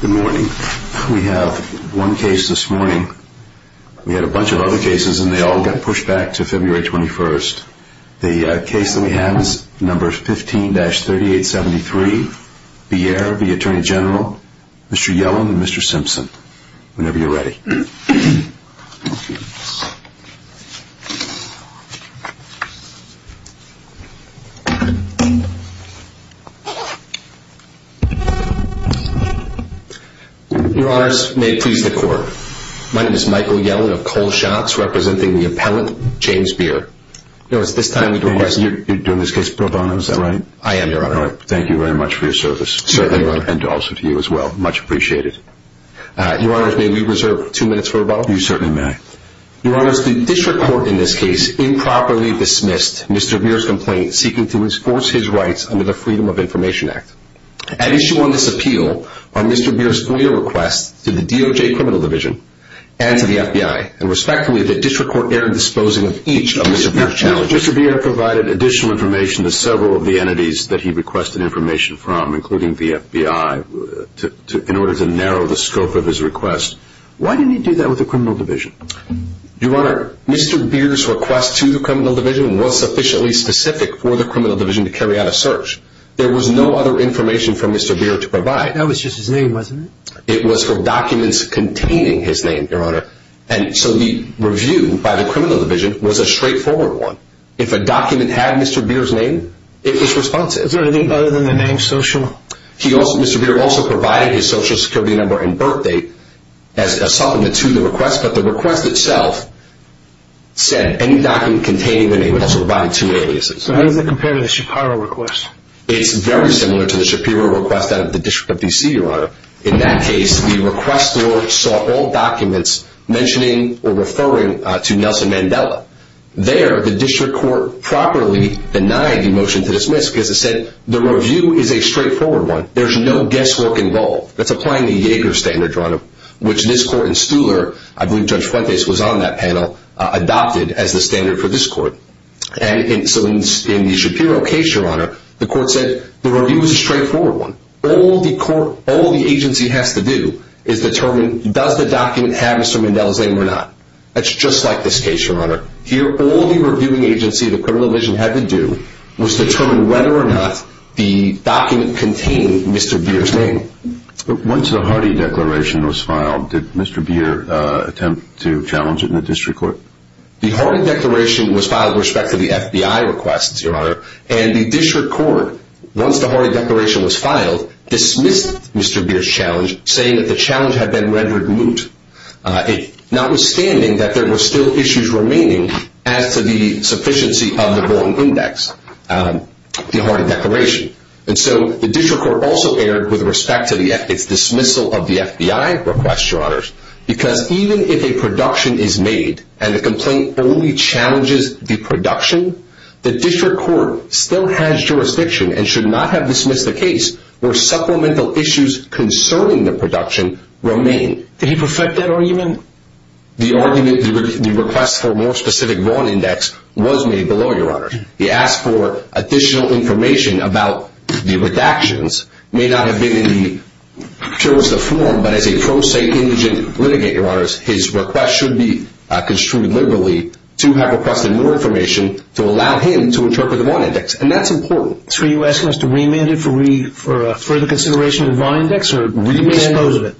Good morning. We have one case this morning. We had a bunch of other cases and they all got pushed back to February 21st. The case that we have is number 15-3873. Bearer, the Attorney General, Mr. Yellen and Mr. Simpson. Whenever you're ready. Your Honors, may it please the Court. My name is Michael Yellen of Cole Shots, representing the appellant, James Bearer. Your Honor, it's this time we request... You're doing this case pro bono, is that right? I am, Your Honor. Thank you very much for your service. Certainly, Your Honor. And also to you as well. Much appreciated. Your Honors, may we reserve two minutes for rebuttal? You certainly may. Your Honors, the District Court in this case improperly dismissed Mr. Bearer's complaint seeking to enforce his rights under the Freedom of Information Act. At issue on this appeal are Mr. Bearer's FOIA requests to the DOJ Criminal Division and to the FBI. And respectfully, the District Court erred in disposing of each of Mr. Bearer's challenges. Mr. Bearer provided additional information to several of the entities that he requested information from, including the FBI, in order to narrow the scope of his request. Why didn't he do that with the Criminal Division? Your Honor, Mr. Bearer's request to the Criminal Division was sufficiently specific for the Criminal Division to carry out a search. There was no other information for Mr. Bearer to provide. That was just his name, wasn't it? It was for documents containing his name, Your Honor. And so the review by the Criminal Division was a straightforward one. If a document had Mr. Bearer's name, it was responsive. Is there anything other than the name social? Mr. Bearer also provided his social security number and birth date as a supplement to the request. But the request itself said any document containing the name. It also provided two aliases. So how does it compare to the Shapiro request? It's very similar to the Shapiro request out of the District of D.C., Your Honor. In that case, the request saw all documents mentioning or referring to Nelson Mandela. There, the District Court properly denied the motion to dismiss because it said the review is a straightforward one. There's no guesswork involved. That's applying the Yeager standard, Your Honor, which this court in Stuler, I believe Judge Fuentes was on that panel, adopted as the standard for this court. And so in the Shapiro case, Your Honor, the court said the review is a straightforward one. All the agency has to do is determine does the document have Mr. Mandela's name or not. That's just like this case, Your Honor. Here, all the reviewing agency the Criminal Division had to do was determine whether or not the document contained Mr. Bearer's name. Once the Hardy Declaration was filed, did Mr. Bearer attempt to challenge it in the District Court? The Hardy Declaration was filed with respect to the FBI request, Your Honor. And the District Court, once the Hardy Declaration was filed, dismissed Mr. Bearer's challenge, saying that the challenge had been rendered moot, notwithstanding that there were still issues remaining as to the sufficiency of the Bolton Index, the Hardy Declaration. And so the District Court also erred with respect to its dismissal of the FBI request, Your Honor, because even if a production is made and the complaint only challenges the production, the District Court still has jurisdiction and should not have dismissed a case where supplemental issues concerning the production remain. Did he perfect that argument? The request for a more specific Vaughan Index was made below, Your Honor. He asked for additional information about the redactions. It may not have been in the purest of form, but as a pro se indigent litigant, Your Honor, his request should be construed liberally to have requested more information to allow him to interpret the Vaughan Index. And that's important. So are you asking us to remand it for further consideration of the Vaughan Index, or do we dispose of it?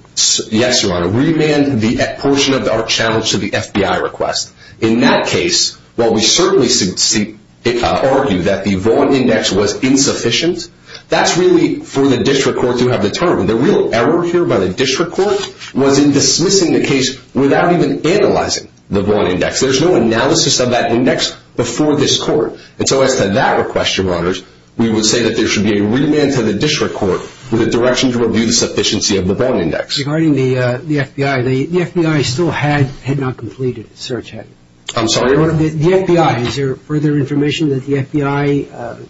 Yes, Your Honor. Remand the portion of our challenge to the FBI request. In that case, while we certainly argue that the Vaughan Index was insufficient, that's really for the District Court to have determined. The real error here by the District Court was in dismissing the case without even analyzing the Vaughan Index. There's no analysis of that index before this Court. And so as to that request, Your Honors, we would say that there should be a remand to the District Court with a direction to review the sufficiency of the Vaughan Index. Regarding the FBI, the FBI still had not completed its search. I'm sorry? The FBI. Is there further information that the FBI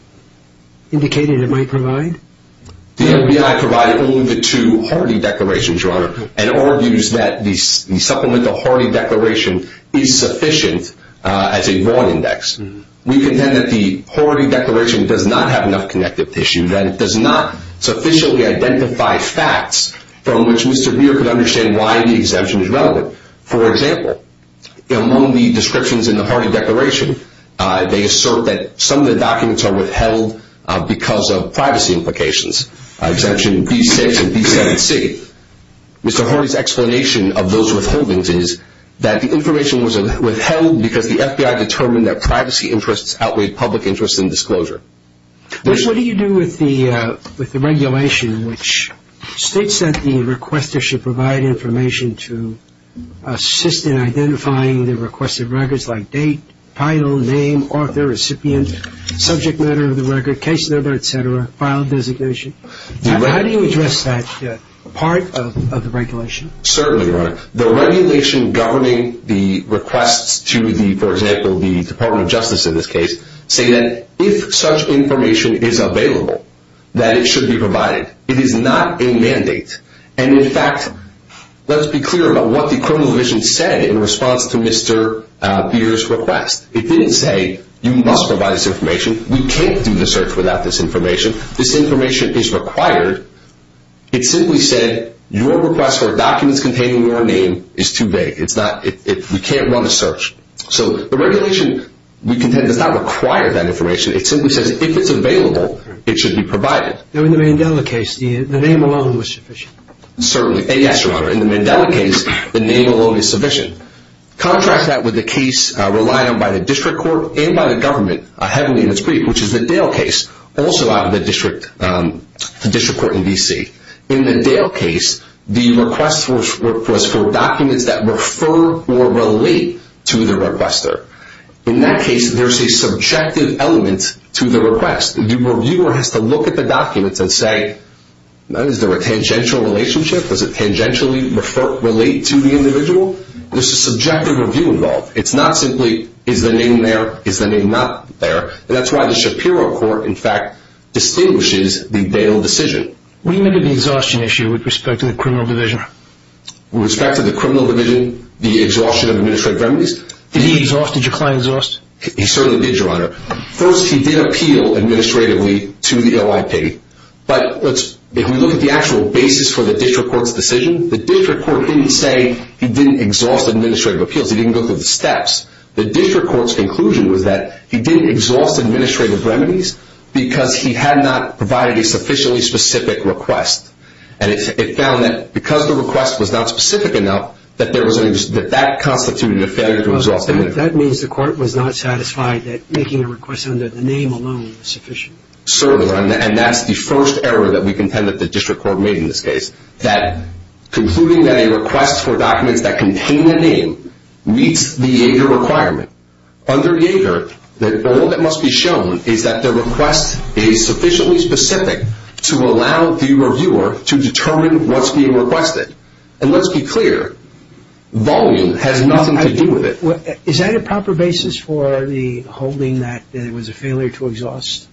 indicated it might provide? The FBI provided only the two Horty Declarations, Your Honor, and argues that the supplemental Horty Declaration is sufficient as a Vaughan Index. We contend that the Horty Declaration does not have enough connective tissue, that it does not sufficiently identify facts from which Mr. Beer could understand why the exemption is relevant. For example, among the descriptions in the Horty Declaration, they assert that some of the documents are withheld because of privacy implications. Exemption B6 and B7C. Mr. Horty's explanation of those withholdings is that the information was withheld because the FBI determined that privacy interests outweighed public interest in disclosure. What do you do with the regulation which states that the requester should provide information to assist in identifying the requested records like date, title, name, author, recipient, subject matter of the record, case number, et cetera, file designation? How do you address that part of the regulation? Certainly, Your Honor. The regulation governing the requests to the, for example, the Department of Justice in this case, say that if such information is available, that it should be provided. It is not a mandate. And in fact, let's be clear about what the criminal division said in response to Mr. Beer's request. It didn't say, you must provide this information. We can't do the search without this information. This information is required. It simply said, your request for documents containing your name is too vague. It's not, we can't run a search. So the regulation, we contend, does not require that information. It simply says, if it's available, it should be provided. Now, in the Mandela case, the name alone was sufficient. Certainly. And yes, Your Honor, in the Mandela case, the name alone is sufficient. Contrast that with the case relied on by the district court and by the government heavily in its brief, which is the Dale case, also out of the district court in D.C. In the Dale case, the request was for documents that refer or relate to the requester. In that case, there's a subjective element to the request. The reviewer has to look at the documents and say, is there a tangential relationship? Does it tangentially relate to the individual? There's a subjective review involved. It's not simply, is the name there? Is the name not there? That's why the Shapiro court, in fact, distinguishes the Dale decision. What do you make of the exhaustion issue with respect to the criminal division? With respect to the criminal division, the exhaustion of administrative remedies? Did he exhaust? Did your client exhaust? He certainly did, Your Honor. First, he did appeal administratively to the OIP. But if we look at the actual basis for the district court's decision, the district court didn't say he didn't exhaust administrative appeals. He didn't go through the steps. The district court's conclusion was that he didn't exhaust administrative remedies because he had not provided a sufficiently specific request. And it found that because the request was not specific enough, that that constituted a failure to exhaust administrative remedies. That means the court was not satisfied that making a request under the name alone was sufficient. Certainly. And that's the first error that we contend that the district court made in this case, that concluding that a request for documents that contain a name meets the Yager requirement. Under Yager, all that must be shown is that the request is sufficiently specific to allow the reviewer to determine what's being requested. And let's be clear, volume has nothing to do with it. Is that a proper basis for the holding that it was a failure to exhaust?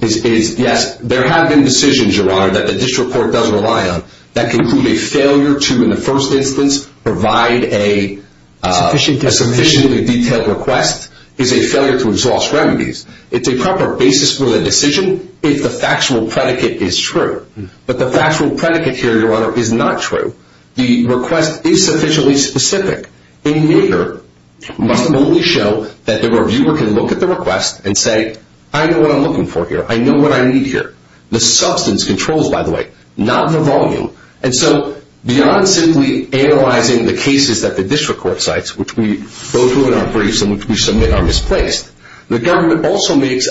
Yes. There have been decisions, Your Honor, that the district court doesn't rely on that conclude a failure to, in the first instance, provide a sufficiently detailed request is a failure to exhaust remedies. It's a proper basis for the decision if the factual predicate is true. But the factual predicate here, Your Honor, is not true. The request is sufficiently specific. In Yager, it must only show that the reviewer can look at the request and say, I know what I'm looking for here. I know what I need here. The substance controls, by the way, not the volume. And so beyond simply analyzing the cases that the district court cites, which we go through in our briefs and which we submit are misplaced, the government also makes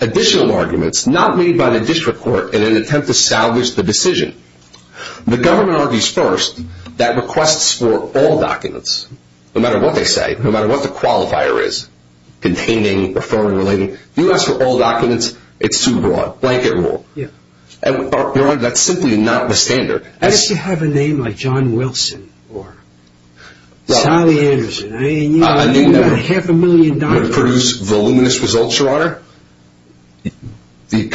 additional arguments not made by the district court in an attempt to salvage the decision. The government argues first that requests for all documents, no matter what they say, no matter what the qualifier is, containing, referring, relating, if you ask for all documents, it's too broad, blanket rule. Your Honor, that's simply not the standard. Unless you have a name like John Wilson or Sally Anderson. I mean, half a million dollars. That would produce voluminous results, Your Honor. The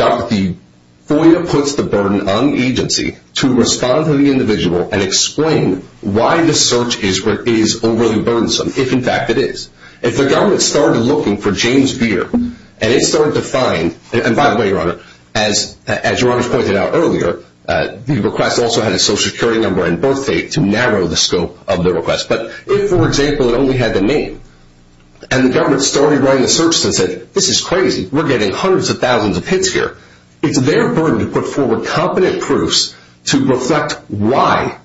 FOIA puts the burden on the agency to respond to the individual and explain why the search is overly burdensome, if in fact it is. If the government started looking for James Beer and it started to find, and by the way, Your Honor, as Your Honor has pointed out earlier, the request also had a social security number and birth date to narrow the scope of the request. But if, for example, it only had the name and the government started running the search and said, this is crazy, we're getting hundreds of thousands of hits here, it's their burden to put forward competent proofs to reflect why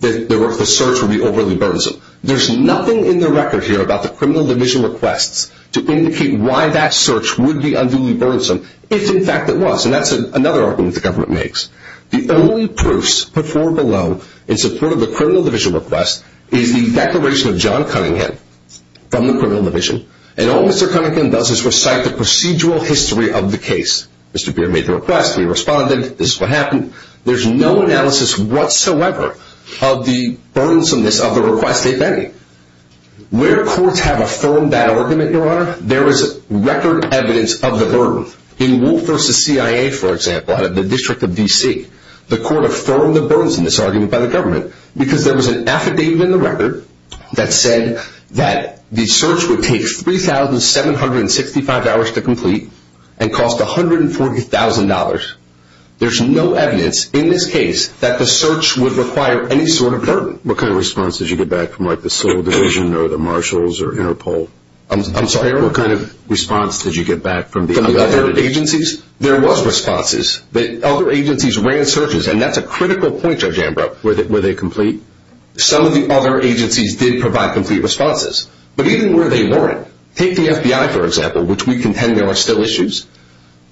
the search would be overly burdensome. There's nothing in the record here about the criminal division requests to indicate why that search would be unduly burdensome, if in fact it was. And that's another argument the government makes. The only proofs put forward below in support of the criminal division request is the declaration of John Cunningham from the criminal division. And all Mr. Cunningham does is recite the procedural history of the case. Mr. Beer made the request, we responded, this is what happened. There's no analysis whatsoever of the burdensomeness of the request, if any. Where courts have affirmed that argument, Your Honor, there is record evidence of the burden. In Wolf v. CIA, for example, out of the District of D.C., the court affirmed the burdensomeness argument by the government because there was an affidavit in the record that said that the search would take 3,765 hours to complete and cost $140,000. There's no evidence in this case that the search would require any sort of burden. What kind of response did you get back from the Civil Division or the Marshals or Interpol? I'm sorry, what kind of response did you get back from the other agencies? There was responses. Other agencies ran searches, and that's a critical point, Judge Ambrose. Were they complete? Some of the other agencies did provide complete responses. But even where they weren't, take the FBI, for example, which we contend there are still issues,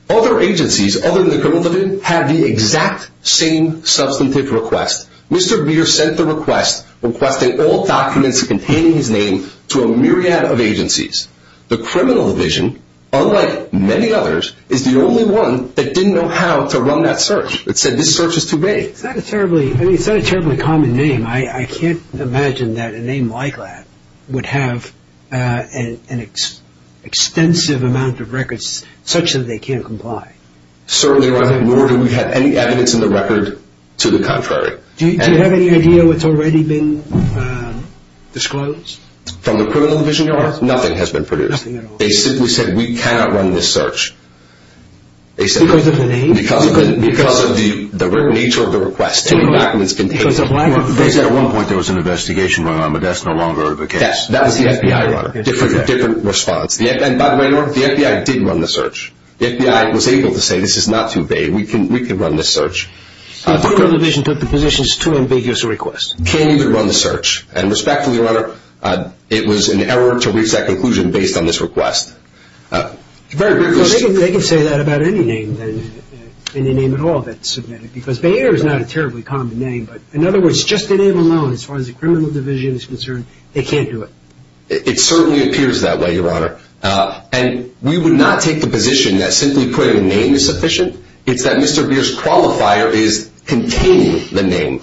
other agencies other than the Criminal Division have the exact same substantive request. Mr. Beer sent the request requesting all documents containing his name to a myriad of agencies. The Criminal Division, unlike many others, is the only one that didn't know how to run that search. It said this search is too big. It's not a terribly common name. I can't imagine that a name like that would have an extensive amount of records such that they can't comply. Certainly not, nor do we have any evidence in the record to the contrary. Do you have any idea what's already been disclosed? From the Criminal Division, nothing has been produced. They simply said we cannot run this search. Because of the name? Because of the nature of the request. Because at one point there was an investigation going on, but that's no longer the case. That was the FBI runner. Different response. By the way, the FBI did run the search. The FBI was able to say this is not too big. We can run this search. The Criminal Division took the position it's too ambiguous a request. Can't even run the search. And respectfully, Your Honor, it was an error to reach that conclusion based on this request. They can say that about any name then, any name at all that's submitted. Because Bayer is not a terribly common name. But, in other words, just the name alone, as far as the Criminal Division is concerned, they can't do it. It certainly appears that way, Your Honor. And we would not take the position that simply putting a name is sufficient. It's that Mr. Beer's qualifier is containing the name.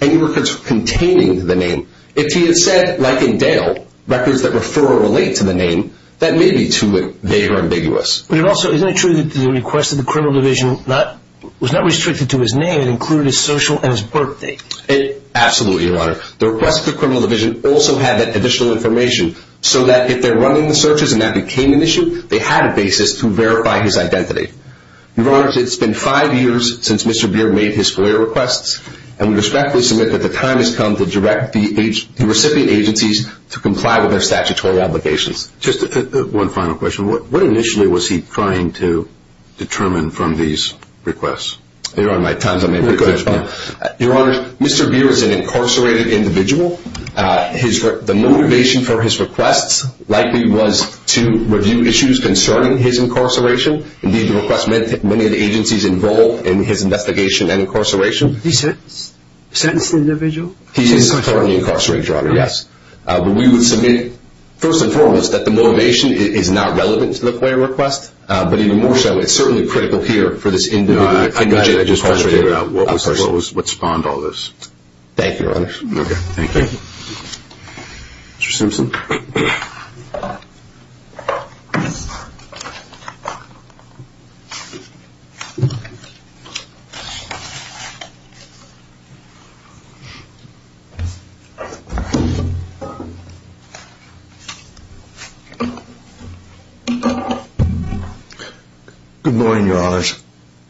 Any records containing the name. If he had said, like in Dale, records that refer or relate to the name, that may be too vague or ambiguous. But it also, isn't it true that the request of the Criminal Division was not restricted to his name? It included his social and his birth date. Absolutely, Your Honor. The request of the Criminal Division also had that additional information so that if they're running the searches and that became an issue, they had a basis to verify his identity. Your Honor, it's been five years since Mr. Beer made his FOIA requests. And we respectfully submit that the time has come to direct the recipient agencies to comply with their statutory obligations. Just one final question. What initially was he trying to determine from these requests? Your Honor, my time's up. Your Honor, Mr. Beer is an incarcerated individual. The motivation for his requests likely was to review issues concerning his incarceration. Indeed, the request meant that many of the agencies involved in his investigation and incarceration. He sentenced the individual? He is a totally incarcerated drug dealer. We would submit, first and foremost, that the motivation is not relevant to the FOIA request. But even more so, it's certainly critical here for this individual. I got it. I just want to figure out what spawned all this. Thank you, Your Honor. Okay. Thank you. Mr. Simpson? Good morning, Your Honors.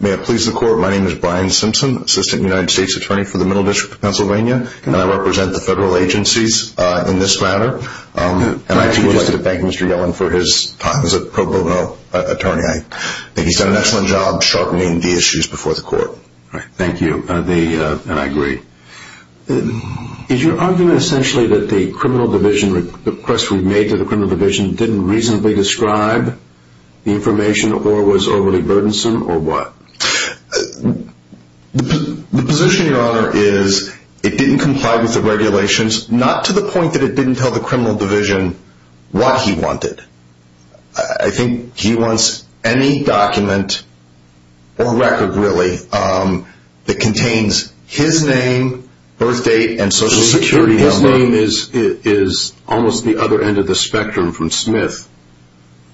May it please the Court, my name is Brian Simpson, Assistant United States Attorney for the Middle District of Pennsylvania. And I represent the federal agencies in this matter. And I would like to thank Mr. Yellen for his time as a pro bono attorney. I think he's done an excellent job sharpening the issues before the Court. Thank you. And I agree. Is your argument essentially that the criminal division request we made to the criminal division didn't reasonably describe the information or was overly burdensome or what? The position, Your Honor, is it didn't comply with the regulations, not to the point that it didn't tell the criminal division what he wanted. I think he wants any document or record, really, that contains his name, birth date, and social security number. His name is almost the other end of the spectrum from Smith,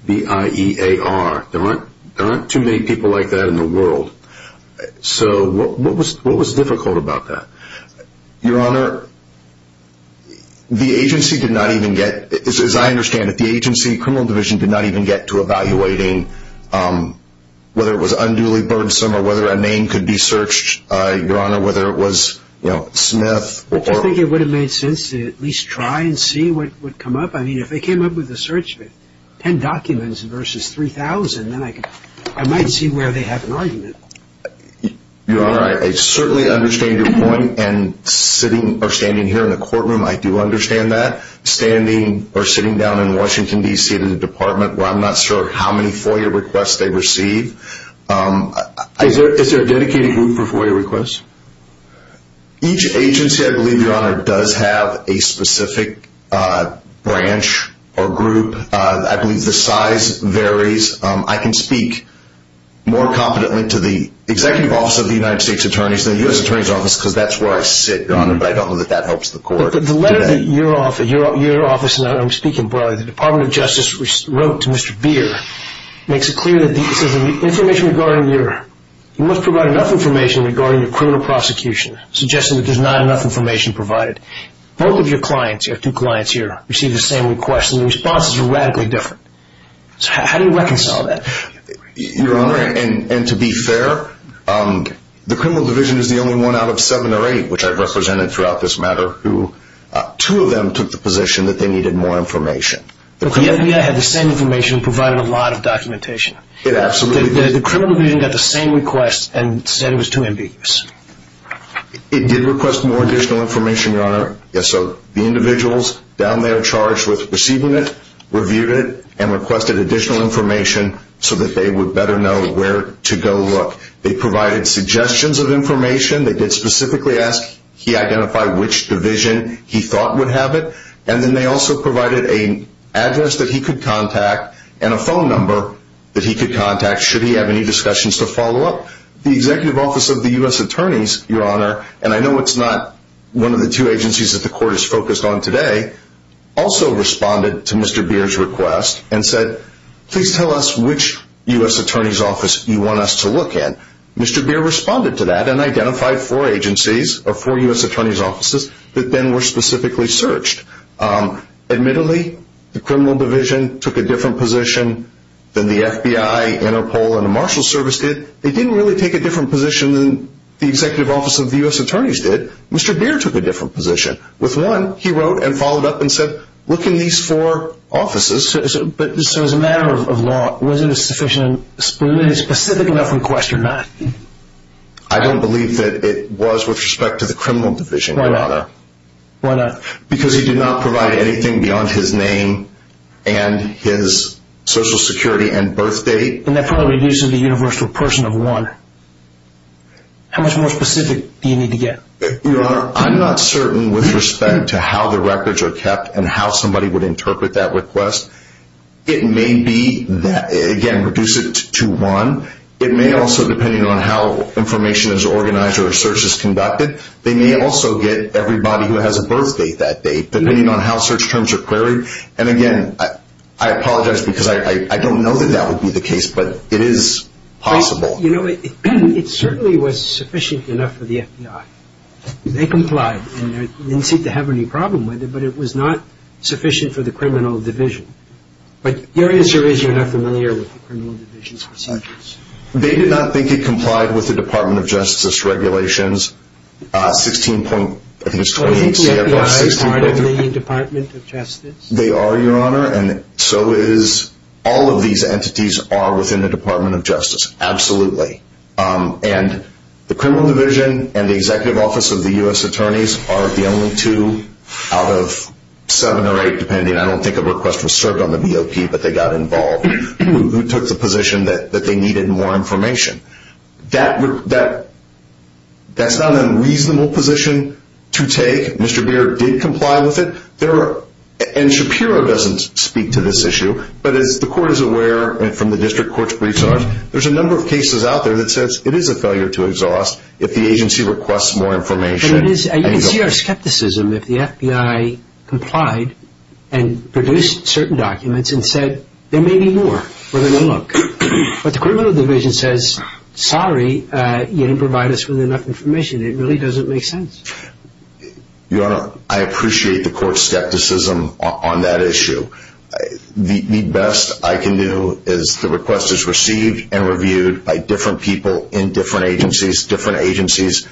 B-I-E-A-R. There aren't too many people like that in the world. So what was difficult about that? Your Honor, the agency did not even get, as I understand it, the agency criminal division did not even get to evaluating whether it was unduly burdensome or whether a name could be searched, Your Honor, whether it was Smith. I just think it would have made sense to at least try and see what would come up. I mean, if they came up with a search of 10 documents versus 3,000, then I might see where they have an argument. Your Honor, I certainly understand your point. And sitting or standing here in the courtroom, I do understand that. Standing or sitting down in Washington, D.C., in a department where I'm not sure how many FOIA requests they receive. Is there a dedicated group for FOIA requests? Each agency, I believe, Your Honor, does have a specific branch or group. I believe the size varies. I can speak more competently to the executive office of the United States Attorneys than the U.S. Attorney's Office because that's where I sit, Your Honor, but I don't know that that helps the court. The letter that your office, and I'm speaking broadly, the Department of Justice wrote to Mr. Beer makes it clear that the information regarding your you must provide enough information regarding your criminal prosecution, suggesting that there's not enough information provided. Both of your clients, you have two clients here, receive the same request, and the responses are radically different. So how do you reconcile that? Your Honor, and to be fair, the criminal division is the only one out of seven or eight, which I've represented throughout this matter, who two of them took the position that they needed more information. The FBI had the same information and provided a lot of documentation. It absolutely did. The criminal division got the same request and said it was too ambiguous. It did request more additional information, Your Honor. So the individuals down there charged with receiving it, reviewed it, and requested additional information so that they would better know where to go look. They provided suggestions of information. They did specifically ask he identify which division he thought would have it, and then they also provided an address that he could contact and a phone number that he could contact should he have any discussions to follow up. The Executive Office of the U.S. Attorneys, Your Honor, and I know it's not one of the two agencies that the court is focused on today, also responded to Mr. Beer's request and said, please tell us which U.S. Attorney's Office you want us to look in. Mr. Beer responded to that and identified four agencies, or four U.S. Attorney's Offices, that then were specifically searched. Admittedly, the criminal division took a different position than the FBI, Interpol, and the Marshal Service did. They didn't really take a different position than the Executive Office of the U.S. Attorneys did. Mr. Beer took a different position. With one, he wrote and followed up and said, look in these four offices. So as a matter of law, was it a sufficiently specific enough request or not? I don't believe that it was with respect to the criminal division, Your Honor. Why not? Because he did not provide anything beyond his name and his Social Security and birth date. And that probably reduces the universal person of one. How much more specific do you need to get? Your Honor, I'm not certain with respect to how the records are kept and how somebody would interpret that request. It may be, again, reduce it to one. It may also, depending on how information is organized or a search is conducted, they may also get everybody who has a birth date that date, depending on how search terms are queried. And, again, I apologize because I don't know that that would be the case, but it is possible. You know, it certainly was sufficient enough for the FBI. They complied. They didn't seem to have any problem with it, but it was not sufficient for the criminal division. But your answer is you're not familiar with the criminal division's procedures. They did not think it complied with the Department of Justice regulations 16. I think it's 28 CFR 16. Are they in the Department of Justice? They are, Your Honor, and so is all of these entities are within the Department of Justice, absolutely. And the criminal division and the Executive Office of the U.S. Attorneys are the only two out of seven or eight, depending, I don't think a request was served on the BOP, but they got involved, who took the position that they needed more information. That's not an unreasonable position to take. Mr. Beard did comply with it. And Shapiro doesn't speak to this issue, but as the court is aware, and from the district court's briefs on it, there's a number of cases out there that says it is a failure to exhaust if the agency requests more information. And you can see our skepticism if the FBI complied and produced certain documents and said there may be more where there's no look. But the criminal division says, sorry, you didn't provide us with enough information. It really doesn't make sense. Your Honor, I appreciate the court's skepticism on that issue. The best I can do is the request is received and reviewed by different people in different agencies. Different agencies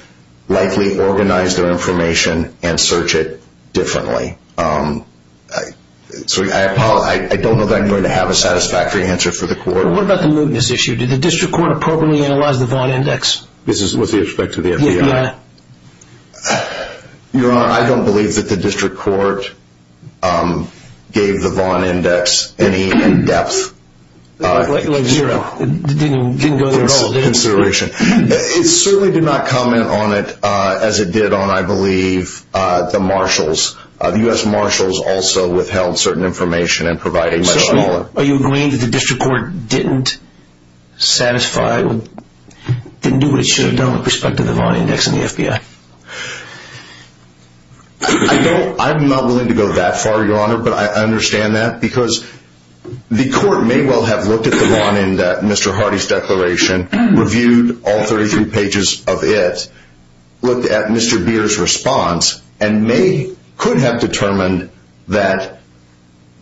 likely organize their information and search it differently. So I don't know that I'm going to have a satisfactory answer for the court. What about the mootness issue? Did the district court appropriately analyze the Vaughn Index? This is with respect to the FBI? Yeah. Your Honor, I don't believe that the district court gave the Vaughn Index any in-depth consideration. It certainly did not comment on it as it did on, I believe, the marshals. The U.S. marshals also withheld certain information and provided much smaller. Are you agreeing that the district court didn't satisfy, didn't do what it should have done with respect to the Vaughn Index and the FBI? I'm not willing to go that far, Your Honor, but I understand that because the court may well have looked at the Vaughn Index, Mr. Hardy's declaration, reviewed all 33 pages of it, looked at Mr. Beer's response, and may, could have determined that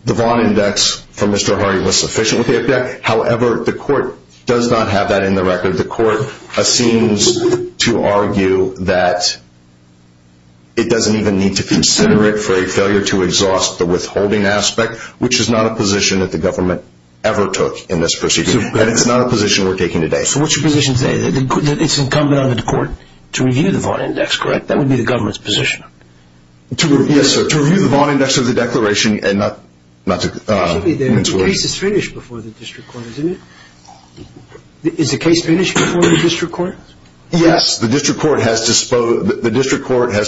the Vaughn Index for Mr. Hardy was sufficient with the FBI. However, the court does not have that in the record. The court seems to argue that it doesn't even need to consider it for a failure to exhaust the withholding aspect, which is not a position that the government ever took in this proceeding, and it's not a position we're taking today. So what's your position today? It's incumbent on the court to review the Vaughn Index, correct? That would be the government's position. Yes, sir, to review the Vaughn Index of the declaration and not to... Excuse me, the case is finished before the district court, isn't it? Is the case finished before the district court? Yes, the district court has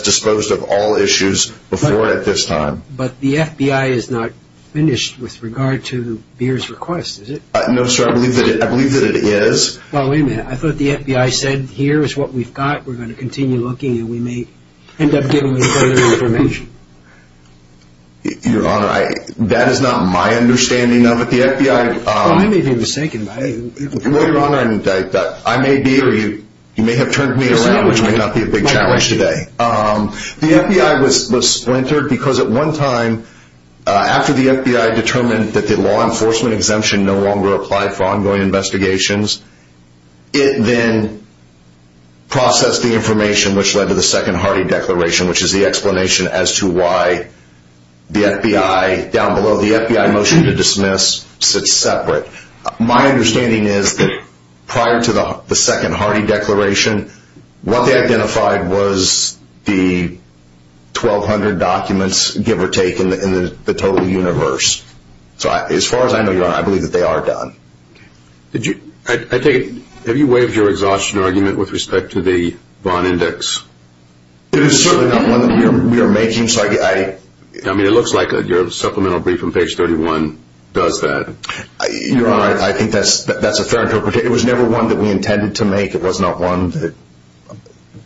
disposed of all issues before at this time. But the FBI is not finished with regard to Beer's request, is it? No, sir, I believe that it is. Well, wait a minute, I thought the FBI said, here is what we've got, we're going to continue looking, and we may end up giving them further information. Your Honor, that is not my understanding of it. The FBI... Well, I may be mistaken. Well, Your Honor, I may be, or you may have turned me around, which may not be a big challenge today. The FBI was splintered because at one time, after the FBI determined that the law enforcement exemption no longer applied for ongoing investigations, it then processed the information, which led to the Second Hardy Declaration, which is the explanation as to why the FBI, down below the FBI motion to dismiss, sits separate. My understanding is that prior to the Second Hardy Declaration, what they identified was the 1,200 documents, give or take, in the total universe. So as far as I know, Your Honor, I believe that they are done. Have you waived your exhaustion argument with respect to the Vaughn Index? It is certainly not one that we are making, so I... I mean, it looks like your supplemental brief on page 31 does that. Your Honor, I think that's a fair interpretation. It was never one that we intended to make. It was not one that,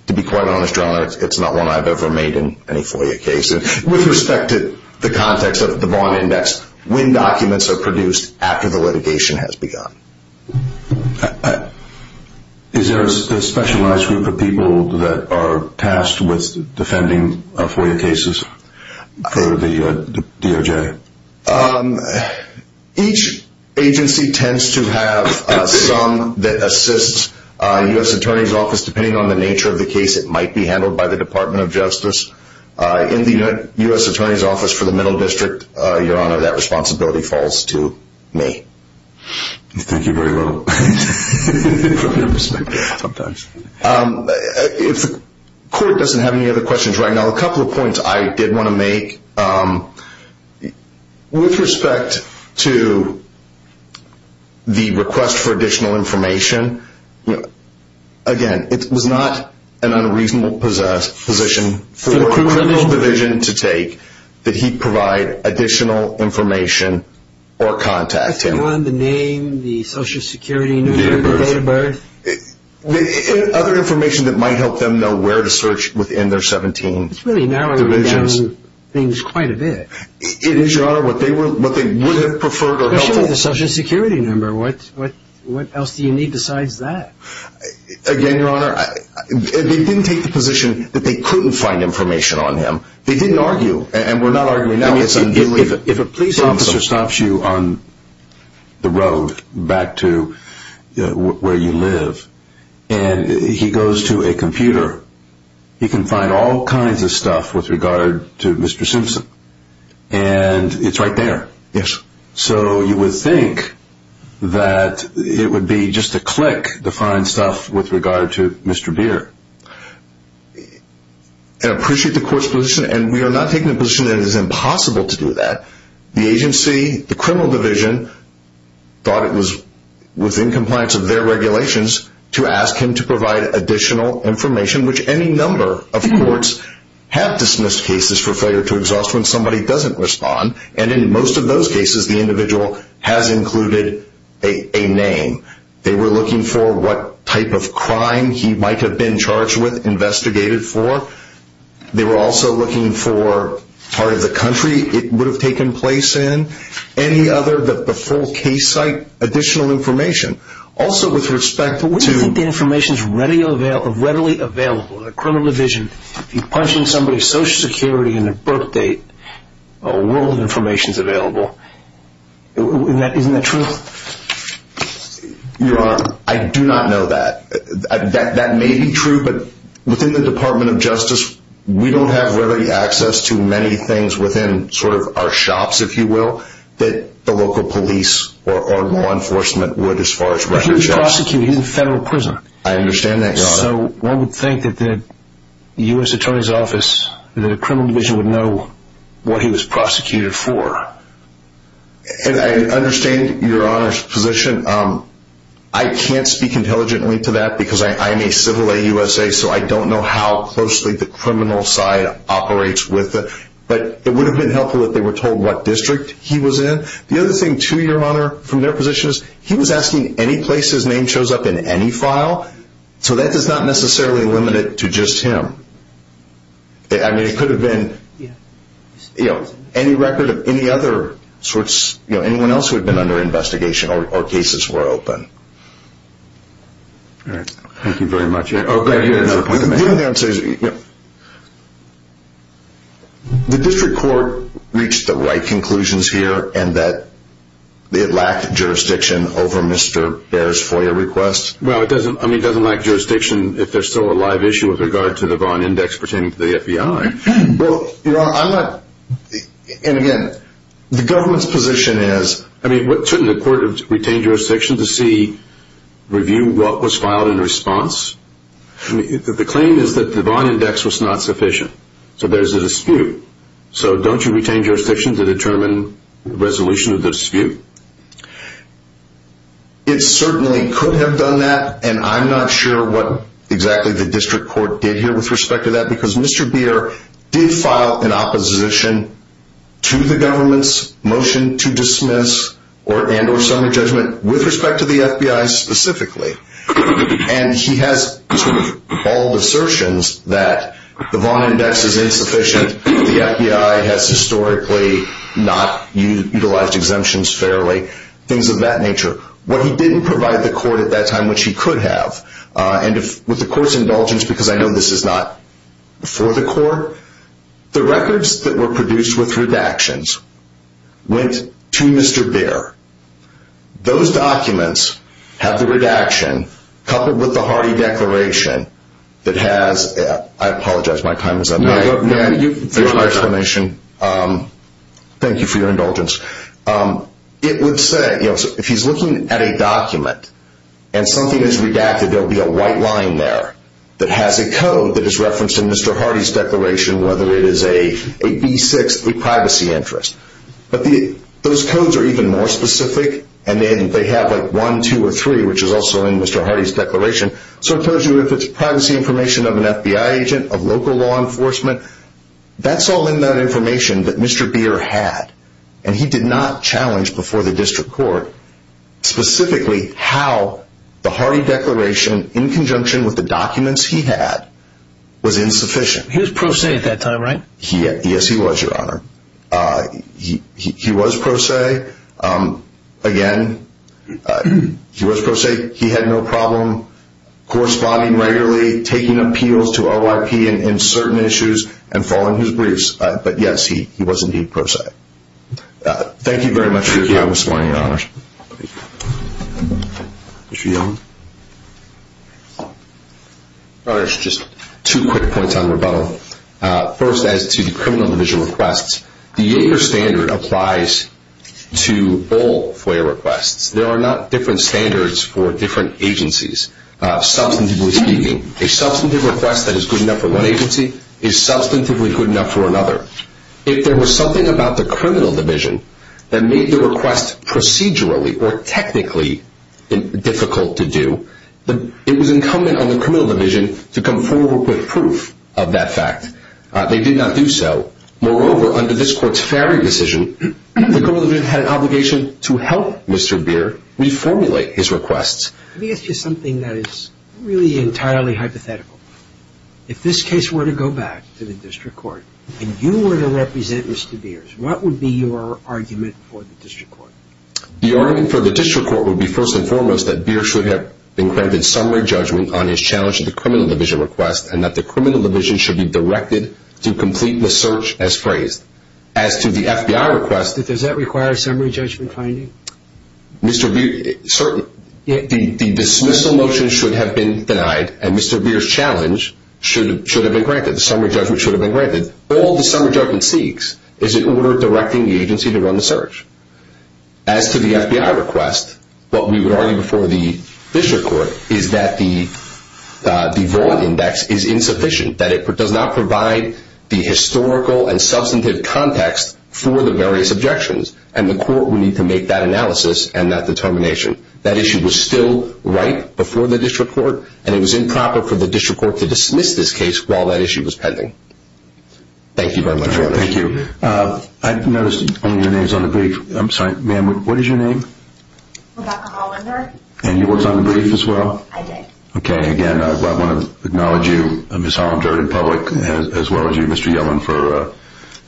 to be quite honest, Your Honor, it's not one I've ever made in any FOIA case. With respect to the context of the Vaughn Index, when documents are produced after the litigation has begun. Is there a specialized group of people that are tasked with defending FOIA cases for the DOJ? Each agency tends to have some that assists U.S. Attorney's Office, depending on the nature of the case, it might be handled by the Department of Justice. In the U.S. Attorney's Office for the Middle District, Your Honor, that responsibility falls to me. Thank you very much. If the court doesn't have any other questions right now, a couple of points I did want to make. With respect to the request for additional information, again, it was not an unreasonable position for a criminal division to take that he provide additional information or contact him. The name, the Social Security number, the date of birth? Other information that might help them know where to search within their 17 divisions. It's really narrowing down things quite a bit. It is, Your Honor, what they would have preferred or helped with. What about the Social Security number? What else do you need besides that? Again, Your Honor, they didn't take the position that they couldn't find information on him. They didn't argue, and we're not arguing now. If a police officer stops you on the road back to where you live, and he goes to a computer, he can find all kinds of stuff with regard to Mr. Simpson, and it's right there. Yes. So you would think that it would be just a click to find stuff with regard to Mr. Beer. I appreciate the court's position, and we are not taking a position that it is impossible to do that. The agency, the criminal division, thought it was within compliance of their regulations to ask him to provide additional information, which any number of courts have dismissed cases for failure to exhaust when somebody doesn't respond. And in most of those cases, the individual has included a name. They were looking for what type of crime he might have been charged with, investigated for. They were also looking for part of the country it would have taken place in, any other, the full case site, additional information. Also, with respect to... But wouldn't you think the information is readily available? The criminal division, if you're punching somebody's Social Security and their birth date, a world of information is available. Isn't that true? Your Honor, I do not know that. That may be true, but within the Department of Justice, we don't have readily access to many things within sort of our shops, if you will, that the local police or law enforcement would as far as records show. He was prosecuted. He's a federal prisoner. I understand that, Your Honor. So one would think that the U.S. Attorney's Office, the criminal division, would know what he was prosecuted for. I understand Your Honor's position. I can't speak intelligently to that because I am a civil AUSA, so I don't know how closely the criminal side operates with it. But it would have been helpful if they were told what district he was in. The other thing, too, Your Honor, from their positions, he was asking any place his name shows up in any file. So that is not necessarily limited to just him. I mean, it could have been any record of any other sorts, anyone else who had been under investigation or cases were open. All right. Thank you very much. Okay. The district court reached the right conclusions here and that it lacked jurisdiction over Mr. Baer's FOIA request? Well, I mean, it doesn't lack jurisdiction if there's still a live issue with regard to the Vaughn Index pertaining to the FBI. Well, Your Honor, I'm not, and again, the government's position is... I mean, shouldn't the court have retained jurisdiction to see, review what was filed in response? The claim is that the Vaughn Index was not sufficient, so there's a dispute. It certainly could have done that, and I'm not sure what exactly the district court did here with respect to that because Mr. Baer did file an opposition to the government's motion to dismiss and or summary judgment with respect to the FBI specifically. And he has sort of bald assertions that the Vaughn Index is insufficient, that the FBI has historically not utilized exemptions fairly, things of that nature. What he didn't provide the court at that time, which he could have, and with the court's indulgence because I know this is not for the court, the records that were produced with redactions went to Mr. Baer. Those documents have the redaction coupled with the Hardy Declaration that has... I apologize, my time is up. No, you can finish your explanation. Thank you for your indulgence. It would say, if he's looking at a document and something is redacted, there will be a white line there that has a code that is referenced in Mr. Hardy's declaration, whether it is a B6, a privacy interest. But those codes are even more specific, and then they have like 1, 2, or 3, which is also in Mr. Hardy's declaration. So it tells you if it's privacy information of an FBI agent, of local law enforcement... That's all in that information that Mr. Baer had, and he did not challenge before the district court specifically how the Hardy Declaration, in conjunction with the documents he had, was insufficient. He was pro se at that time, right? Yes, he was, Your Honor. He was pro se. Again, he was pro se. He had no problem corresponding regularly, taking appeals to OIP in certain issues, and following his briefs. But yes, he was indeed pro se. Thank you very much for your time this morning, Your Honors. Thank you. Your Honors, just two quick points on rebuttal. First, as to the criminal division requests, the Yager standard applies to all FOIA requests. There are not different standards for different agencies, substantively speaking. A substantive request that is good enough for one agency is substantively good enough for another. If there was something about the criminal division that made the request procedurally or technically difficult to do, it was incumbent on the criminal division to come forward with proof of that fact. They did not do so. Moreover, under this Court's Ferry decision, the criminal division had an obligation to help Mr. Beer reformulate his requests. Let me ask you something that is really entirely hypothetical. If this case were to go back to the district court and you were to represent Mr. Beer, what would be your argument for the district court? The argument for the district court would be, first and foremost, that Beer should have been granted summary judgment on his challenge to the criminal division request and that the criminal division should be directed to complete the search as phrased. As to the FBI request... Does that require summary judgment finding? Mr. Beer, certainly. The dismissal motion should have been denied and Mr. Beer's challenge should have been granted. The summary judgment should have been granted. All the summary judgment seeks is an order directing the agency to run the search. As to the FBI request, what we would argue before the district court is that the Vaughan Index is insufficient. It does not provide the historical and substantive context for the various objections. The court would need to make that analysis and that determination. That issue was still ripe before the district court and it was improper for the district court to dismiss this case while that issue was pending. Thank you very much, Your Honor. Thank you. I noticed only your name is on the brief. I'm sorry, ma'am, what is your name? Rebecca Hollander. And you were on the brief as well? I did. Okay. Again, I want to acknowledge you, Ms. Hollander, in public as well as you, Mr. Yellen, for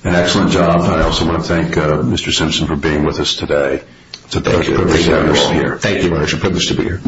an excellent job. I also want to thank Mr. Simpson for being with us today. It's a great honor to be here. Thank you, Your Honor. It's a privilege to be here.